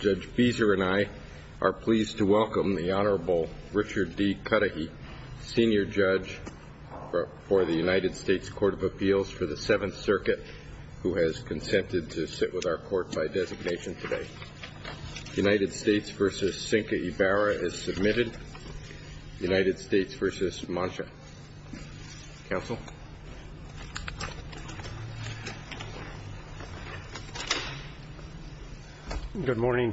Judge Beeser and I are pleased to welcome the Honorable Richard D. Cudahy, Senior Judge for the United States Court of Appeals for the Seventh Circuit, who has consented to sit with our court by designation today. United States v. Cinca Ibarra is submitted. United States v. Mancha. Counsel? Good morning.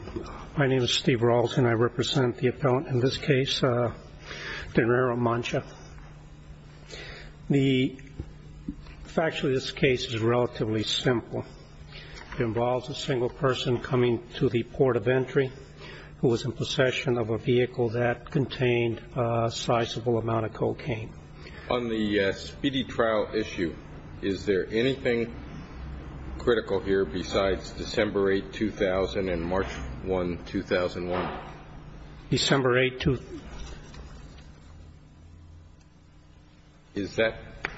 My name is Steve Rawls and I represent the appellant in this case, De Niro Mancha. Factually, this case is relatively simple. It involves a single person coming to the port of entry who was in possession of a vehicle that contained a sizable amount of cocaine. On the speedy trial issue, is there anything critical here besides December 8, 2000, and March 1, 2001? December 8, 2000.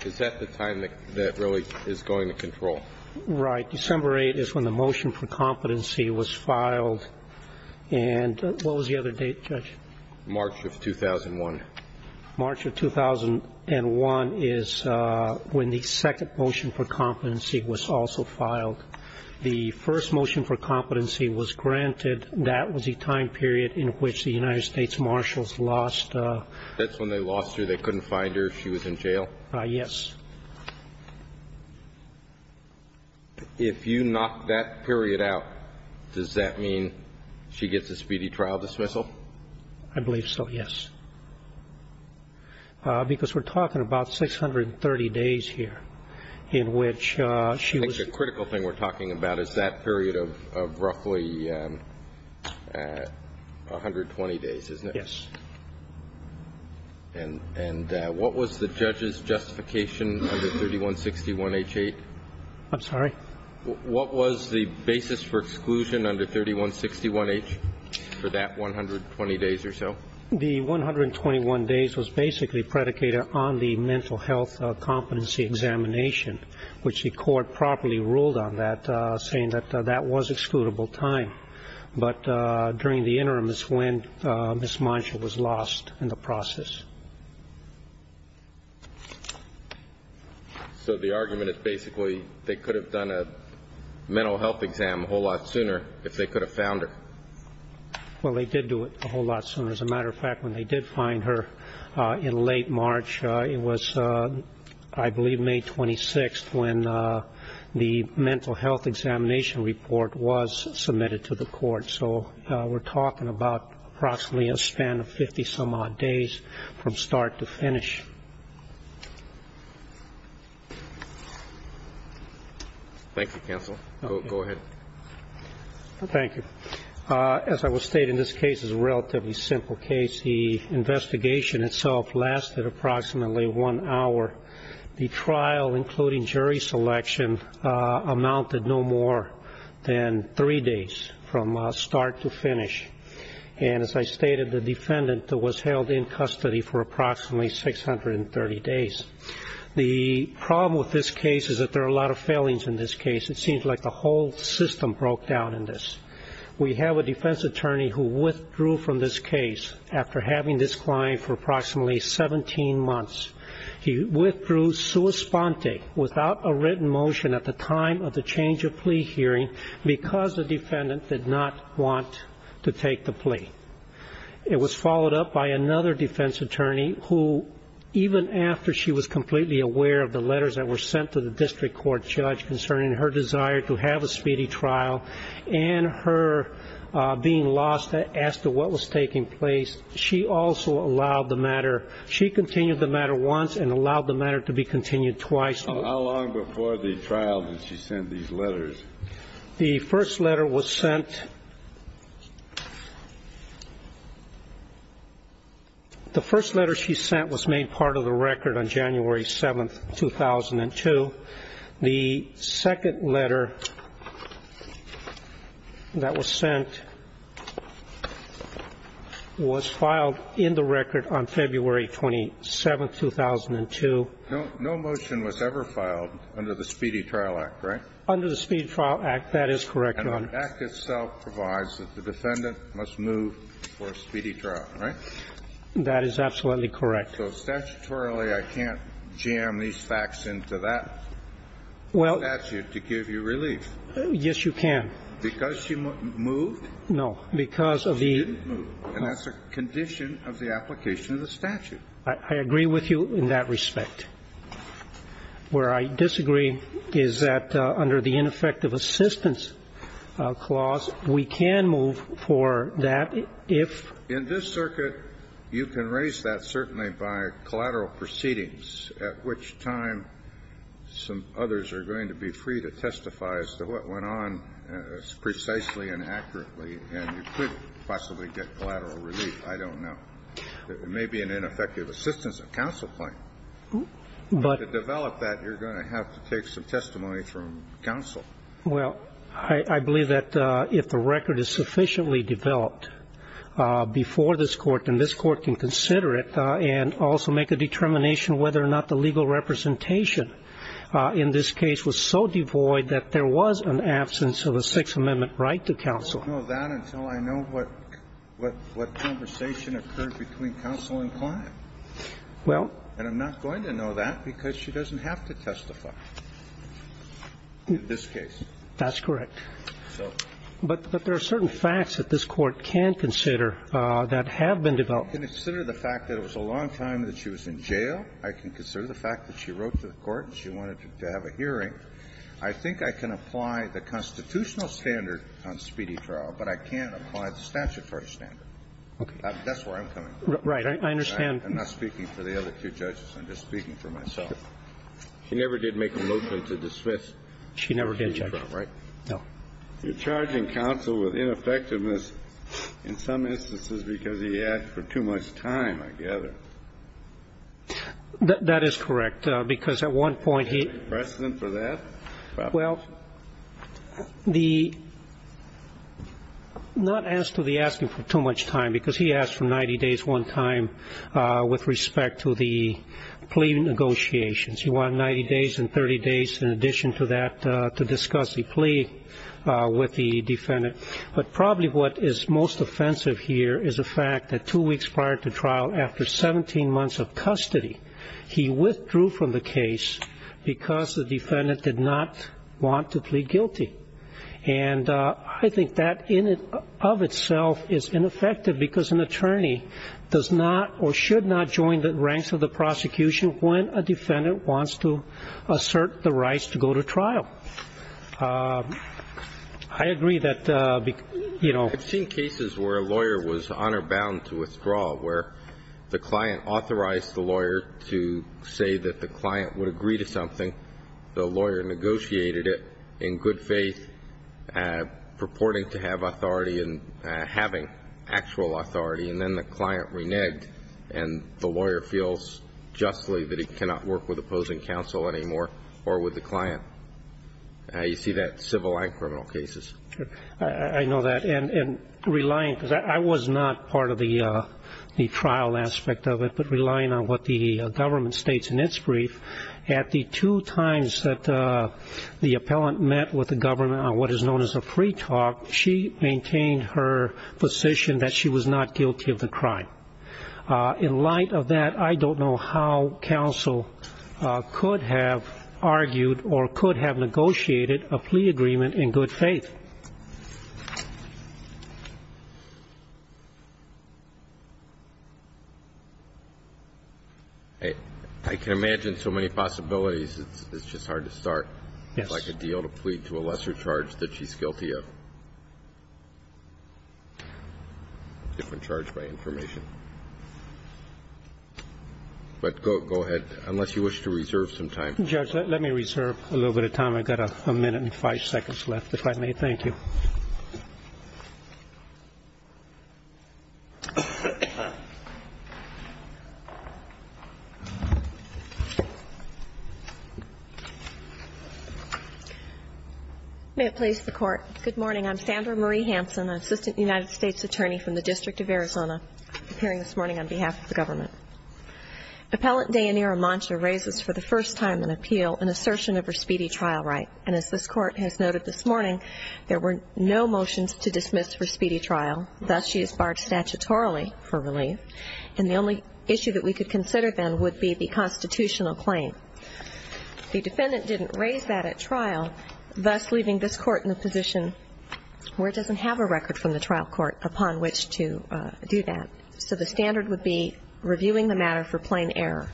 Is that the time that really is going to control? Right. December 8 is when the motion for competency was filed. And what was the other date, Judge? March of 2001. March of 2001 is when the second motion for competency was also filed. The first motion for competency was granted. That was the time period in which the United States Marshals lost. That's when they lost her. They couldn't find her. She was in jail? Yes. If you knock that period out, does that mean she gets a speedy trial dismissal? I believe so, yes. Because we're talking about 630 days here in which she was I think the critical thing we're talking about is that period of roughly 120 days, isn't it? Yes. And what was the judge's justification under 3161H8? I'm sorry? What was the basis for exclusion under 3161H for that 120 days or so? The 121 days was basically predicated on the mental health competency examination, which the court properly ruled on that, saying that that was excludable time. But during the interim is when Ms. Monsha was lost in the process. So the argument is basically they could have done a mental health exam a whole lot sooner if they could have found her. Well, they did do it a whole lot sooner. As a matter of fact, when they did find her in late March, it was I believe May 26th when the mental health examination report was submitted to the court. So we're talking about approximately a span of 50 some odd days from start to finish. Thank you, counsel. Go ahead. Thank you. As I will state, in this case it was a relatively simple case. The investigation itself lasted approximately one hour. The trial, including jury selection, amounted no more than three days from start to finish. And as I stated, the defendant was held in custody for approximately 630 days. The problem with this case is that there are a lot of failings in this case. It seems like the whole system broke down in this. We have a defense attorney who withdrew from this case after having this client for approximately 17 months. He withdrew sua sponte, without a written motion, at the time of the change of plea hearing because the defendant did not want to take the plea. It was followed up by another defense attorney who, even after she was completely aware of the letters that were sent to the district court judge concerning her desire to have a speedy trial and her being lost as to what was taking place, she also allowed the matter. She continued the matter once and allowed the matter to be continued twice. How long before the trial did she send these letters? The first letter was sent. The first letter she sent was made part of the record on January 7th, 2002. The second letter that was sent was filed in the record on February 27th, 2002. No motion was ever filed under the Speedy Trial Act, right? Under the Speedy Trial Act, that is correct, Your Honor. And the act itself provides that the defendant must move for a speedy trial, right? That is absolutely correct. So statutorily, I can't jam these facts into that statute to give you relief. Yes, you can. Because she moved? No, because of the ---- She didn't move. And that's a condition of the application of the statute. I agree with you in that respect. Where I disagree is that under the ineffective assistance clause, we can move for that if ---- In this circuit, you can raise that certainly by collateral proceedings, at which time some others are going to be free to testify as to what went on precisely and accurately, and you could possibly get collateral relief. I don't know. It may be an ineffective assistance of counsel claim. But to develop that, you're going to have to take some testimony from counsel. Well, I believe that if the record is sufficiently developed before this Court, then this Court can consider it and also make a determination whether or not the legal representation in this case was so devoid that there was an absence of a Sixth Amendment right to counsel. I don't know that until I know what conversation occurred between counsel and client. Well ---- I'm not going to know that because she doesn't have to testify in this case. That's correct. But there are certain facts that this Court can consider that have been developed. I can consider the fact that it was a long time that she was in jail. I can consider the fact that she wrote to the Court and she wanted to have a hearing. I think I can apply the constitutional standard on speedy trial, but I can't apply the statutory standard. Okay. That's where I'm coming from. I understand. I'm not speaking for the other two judges. I'm just speaking for myself. She never did make a motion to dismiss. She never did, Judge. Right? No. You're charging counsel with ineffectiveness in some instances because he asked for too much time, I gather. That is correct, because at one point he ---- Is there a precedent for that? Well, the ---- not as to the asking for too much time, because he asked for 90 days at least one time with respect to the plea negotiations. He wanted 90 days and 30 days in addition to that to discuss the plea with the defendant. But probably what is most offensive here is the fact that two weeks prior to trial, after 17 months of custody, he withdrew from the case because the defendant did not want to plead guilty. And I think that in and of itself is ineffective because an attorney does not or should not join the ranks of the prosecution when a defendant wants to assert the rights to go to trial. I agree that, you know ---- I've seen cases where a lawyer was honor bound to withdraw, where the client authorized the lawyer to say that the client would agree to something, the lawyer negotiated it in good faith, purporting to have authority and having actual authority, and then the client reneged and the lawyer feels justly that he cannot work with opposing counsel anymore or with the client. You see that in civil and criminal cases. I know that. And relying ---- because I was not part of the trial aspect of it, but relying on what the government states in its brief, at the two times that the appellant met with the government on what is known as a free talk, she maintained her position that she was not guilty of the crime. In light of that, I don't know how counsel could have argued or could have negotiated a plea agreement in good faith. I can imagine so many possibilities, it's just hard to start like a deal to plead to a lesser charge that she's guilty of. Different charge by information. But go ahead, unless you wish to reserve some time. Judge, let me reserve a little bit of time. I've got a minute and five seconds left, if I may, thank you. May it please the Court. Good morning. I'm Sandra Marie Hansen, Assistant United States Attorney from the District of Arizona, appearing this morning on behalf of the government. Appellant Dayanira Mancha raises for the first time in appeal an assertion of her speedy trial right. And as this Court has noted this morning, there were no motions to dismiss for speedy trial, thus she is barred statutorily for relief. And the only issue that we could consider then would be the constitutional claim. The defendant didn't raise that at trial, thus leaving this Court in a position where it doesn't have a record from the trial court upon which to do that. So the standard would be reviewing the matter for plain error.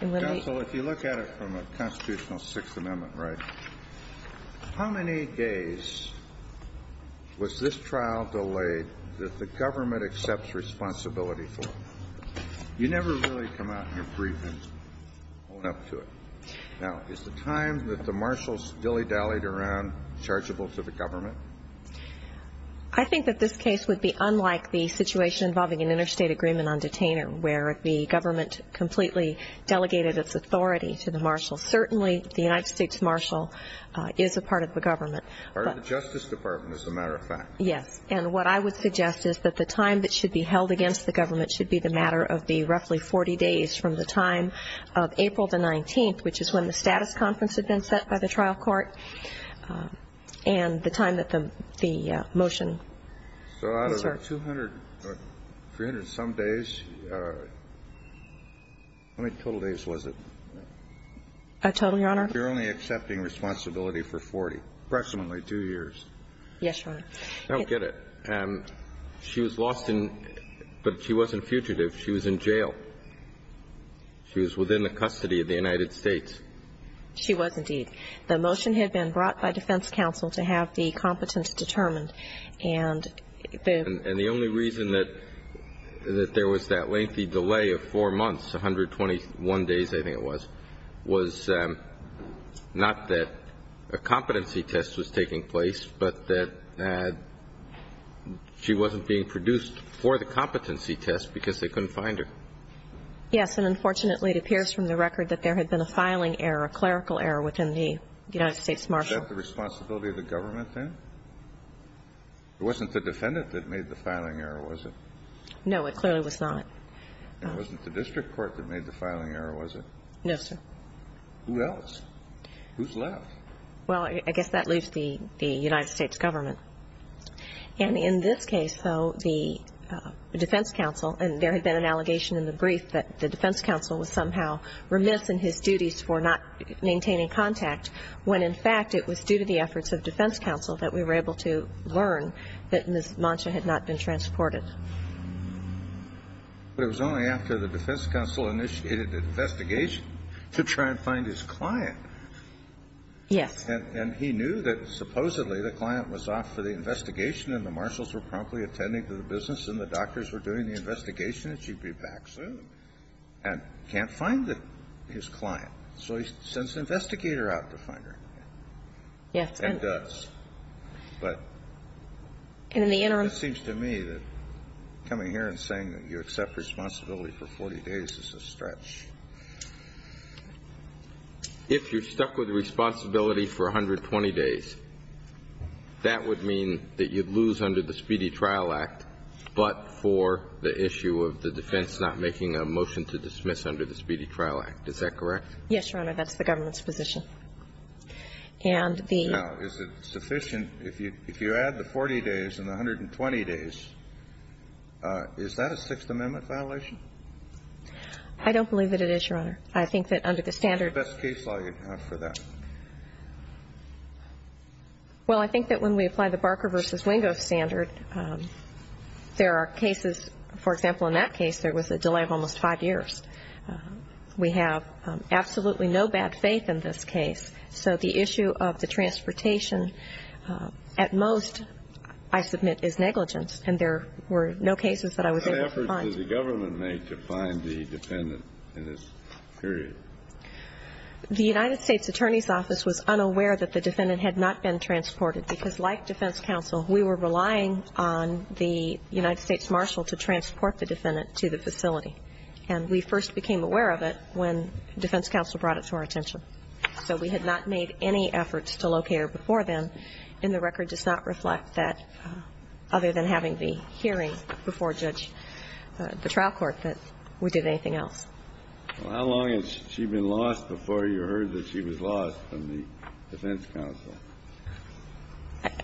Counsel, if you look at it from a constitutional Sixth Amendment right, how many days was this trial delayed that the government accepts responsibility for? You never really come out in your brief and own up to it. Now, is the time that the marshals dilly-dallied around chargeable to the government? I think that this case would be unlike the situation involving an interstate agreement on detainer where the government completely delegated its authority to the marshal. Certainly, the United States marshal is a part of the government. But the Justice Department is a matter of fact. Yes. And what I would suggest is that the time that should be held against the government should be the matter of the roughly 40 days from the time of April the 19th, which is when the status conference had been set by the trial court, and the time that the motion was served. So out of the 200 or 300-some days, how many total days was it? A total, Your Honor? You're only accepting responsibility for 40, approximately 2 years. Yes, Your Honor. I don't get it. She was lost in, but she wasn't fugitive. She was in jail. She was within the custody of the United States. She was, indeed. The motion had been brought by defense counsel to have the competence determined and the And the only reason that there was that lengthy delay of 4 months, 121 days I think it was, was not that a competency test was taking place, but that she wasn't being produced for the competency test because they couldn't find her. Yes. And unfortunately, it appears from the record that there had been a filing error, a clerical error within the United States marshal. Was that the responsibility of the government then? It wasn't the defendant that made the filing error, was it? No. It clearly was not. And it wasn't the district court that made the filing error, was it? No, sir. Who else? Who's left? Well, I guess that leaves the United States government. And in this case, though, the defense counsel, and there had been an allegation in the brief that the defense counsel was somehow remiss in his duties for not finding the client. And it was due to the efforts of defense counsel that we were able to learn that Ms. Monsza had not been transported. But it was only after the defense counsel initiated an investigation to try and find his client. Yes. And he knew that supposedly the client was off for the investigation and the marshals were promptly attending to the business and the doctors were doing the investigation that she'd be back soon and can't find his client. So he sends an investigator out to find her. Yes. And does. But it seems to me that coming here and saying that you accept responsibility for 40 days is a stretch. If you're stuck with responsibility for 120 days, that would mean that you'd lose under the Speedy Trial Act, but for the issue of the defense not making a motion to dismiss under the Speedy Trial Act. Is that correct? Yes, Your Honor. That's the government's position. And the. Now, is it sufficient? If you add the 40 days and the 120 days, is that a Sixth Amendment violation? I don't believe that it is, Your Honor. I think that under the standard. What's the best case law you'd have for that? Well, I think that when we apply the Barker v. Wingo standard, there are cases. For example, in that case, there was a delay of almost five years. We have absolutely no bad faith in this case. So the issue of the transportation at most, I submit, is negligence, and there were no cases that I was able to find. What efforts did the government make to find the defendant in this period? The United States Attorney's Office was unaware that the defendant had not been transported because, like defense counsel, we were relying on the United States Marshal to transport the defendant to the facility. And we first became aware of it when defense counsel brought it to our attention. So we had not made any efforts to locate her before then, and the record does not reflect that other than having the hearing before Judge, the trial court, that we did anything else. Well, how long has she been lost before you heard that she was lost from the defense counsel?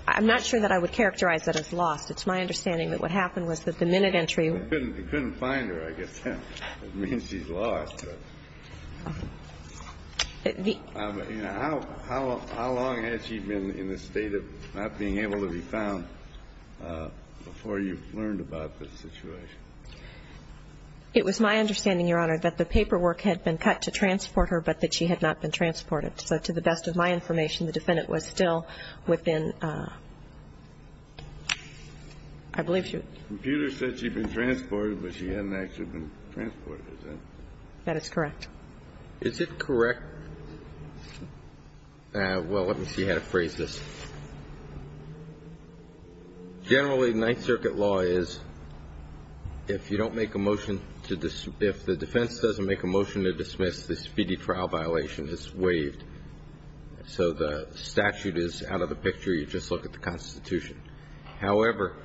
I'm not sure that I would characterize that as lost. It's my understanding that what happened was that the minute entry – You couldn't find her, I guess. It means she's lost. How long has she been in the state of not being able to be found before you learned about this situation? It was my understanding, Your Honor, that the paperwork had been cut to transport her, but that she had not been transported. So to the best of my information, the defendant was still within – I believe she was. The computer said she'd been transported, but she hadn't actually been transported. Is that correct? That is correct. Is it correct – well, let me see how to phrase this. Generally, Ninth Circuit law is if you don't make a motion to – if the defense doesn't make a motion to dismiss, the speedy trial violation is waived. So the statute is out of the picture. You just look at the Constitution. However,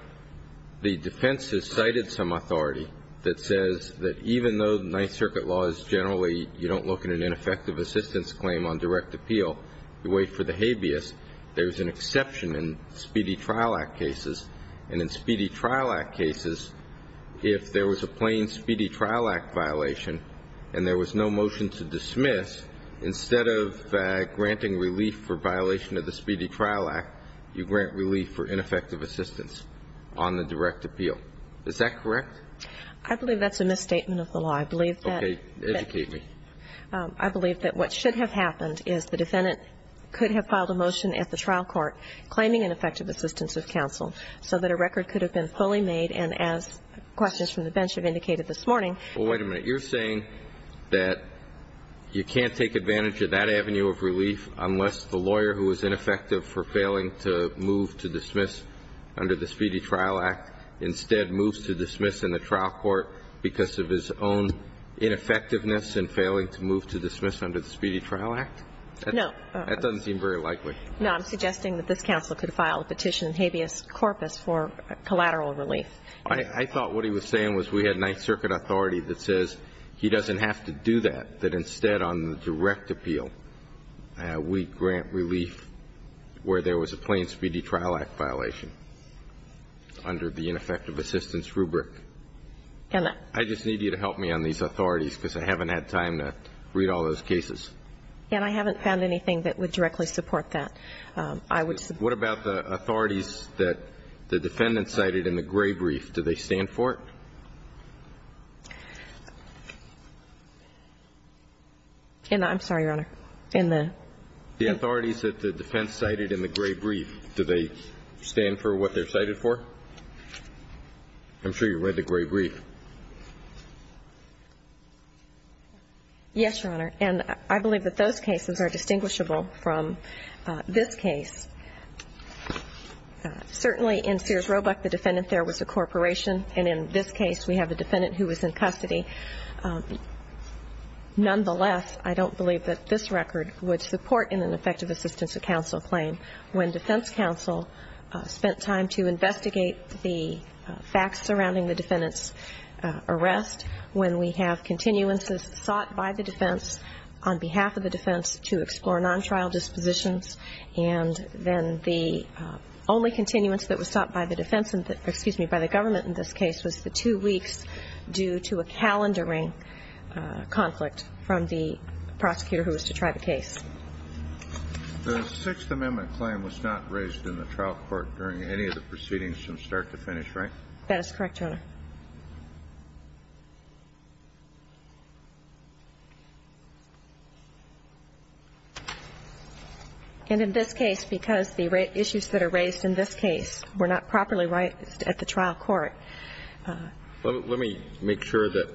the defense has cited some authority that says that even though the Ninth Circuit law is generally you don't look at an ineffective assistance claim on direct appeal, you wait for the habeas, there's an exception in speedy trial act cases. And in speedy trial act cases, if there was a plain speedy trial act violation and there was no motion to dismiss, instead of granting relief for violation of the speedy trial act, you grant relief for ineffective assistance on the direct appeal. Is that correct? I believe that's a misstatement of the law. I believe that – Okay, educate me. I believe that what should have happened is the defendant could have filed a motion at the trial court claiming ineffective assistance of counsel so that a record could have been fully made. And as questions from the bench have indicated this morning – Well, wait a minute. You're saying that you can't take advantage of that avenue of relief unless the lawyer who is ineffective for failing to move to dismiss under the speedy trial act instead moves to dismiss in the trial court because of his own ineffectiveness in failing to move to dismiss under the speedy trial act? No. That doesn't seem very likely. No. I'm suggesting that this counsel could file a petition in habeas corpus for collateral relief. I thought what he was saying was we had Ninth Circuit authority that says he doesn't have to do that, that instead on the direct appeal we grant relief where there was a plain speedy trial act violation under the ineffective assistance rubric. I just need you to help me on these authorities because I haven't had time to read all those cases. And I haven't found anything that would directly support that. What about the authorities that the defendant cited in the gray brief? Do they stand for it? I'm sorry, Your Honor. In the – The authorities that the defense cited in the gray brief, do they stand for what they're cited for? I'm sure you read the gray brief. Yes, Your Honor. And I believe that those cases are distinguishable from this case. Certainly in Sears Roebuck, the defendant there was a corporation. And in this case, we have a defendant who was in custody. Nonetheless, I don't believe that this record would support in an effective assistance of counsel claim when defense counsel spent time to investigate the facts surrounding the defendant's arrest, when we have continuances sought by the defense on behalf of the defense to explore non-trial dispositions. And then the only continuance that was sought by the defense, excuse me, by the government in this case was the two weeks due to a calendaring conflict from the prosecutor who was to try the case. The Sixth Amendment claim was not raised in the trial court during any of the proceedings from start to finish, right? That is correct, Your Honor. And in this case, because the issues that are raised in this case were not properly raised at the trial court. Let me make sure that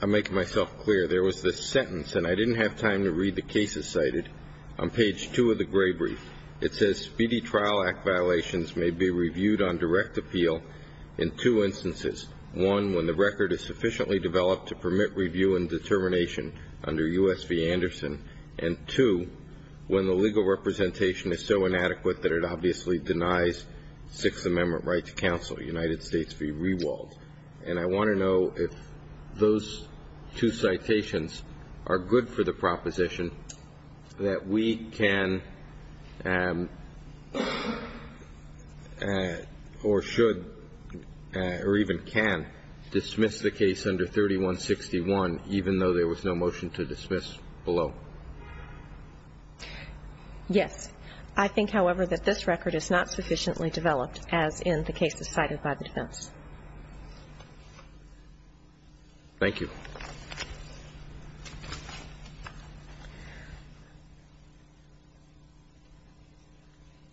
I'm making myself clear. There was this sentence, and I didn't have time to read the cases cited, on page two of the gray brief. It says, BD Trial Act violations may be reviewed on direct appeal in two instances. One, when the record is sufficiently developed to permit review and determination under U.S. v. Anderson. And two, when the legal representation is so inadequate that it obviously denies Sixth Amendment right to counsel. The United States be rewalled. And I want to know if those two citations are good for the proposition that we can or should or even can dismiss the case under 3161, even though there was no motion to dismiss below. Yes. I think, however, that this record is not sufficiently developed, as in the cases cited by the defense. Thank you.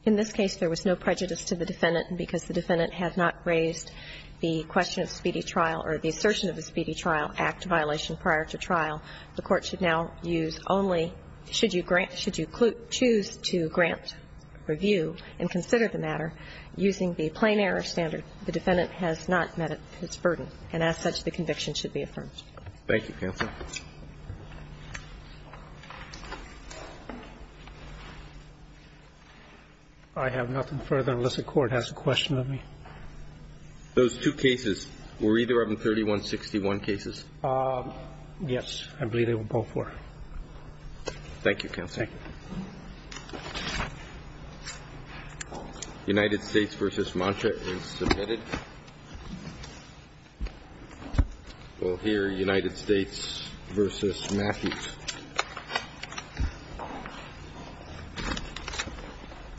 In this case, there was no prejudice to the defendant, because the defendant had not raised the question of speedy trial or the assertion of a speedy trial act violation prior to trial. The Court should now use only, should you grant, should you choose to grant review and consider the matter, using the plain error standard, the defendant has not met its burden. And as such, the conviction should be affirmed. Thank you, Counsel. I have nothing further unless the Court has a question of me. Those two cases were either of them 3161 cases? I believe they were both were. Thank you, Counsel. Thank you. United States v. Mantra is submitted. We'll hear United States v. Matthew.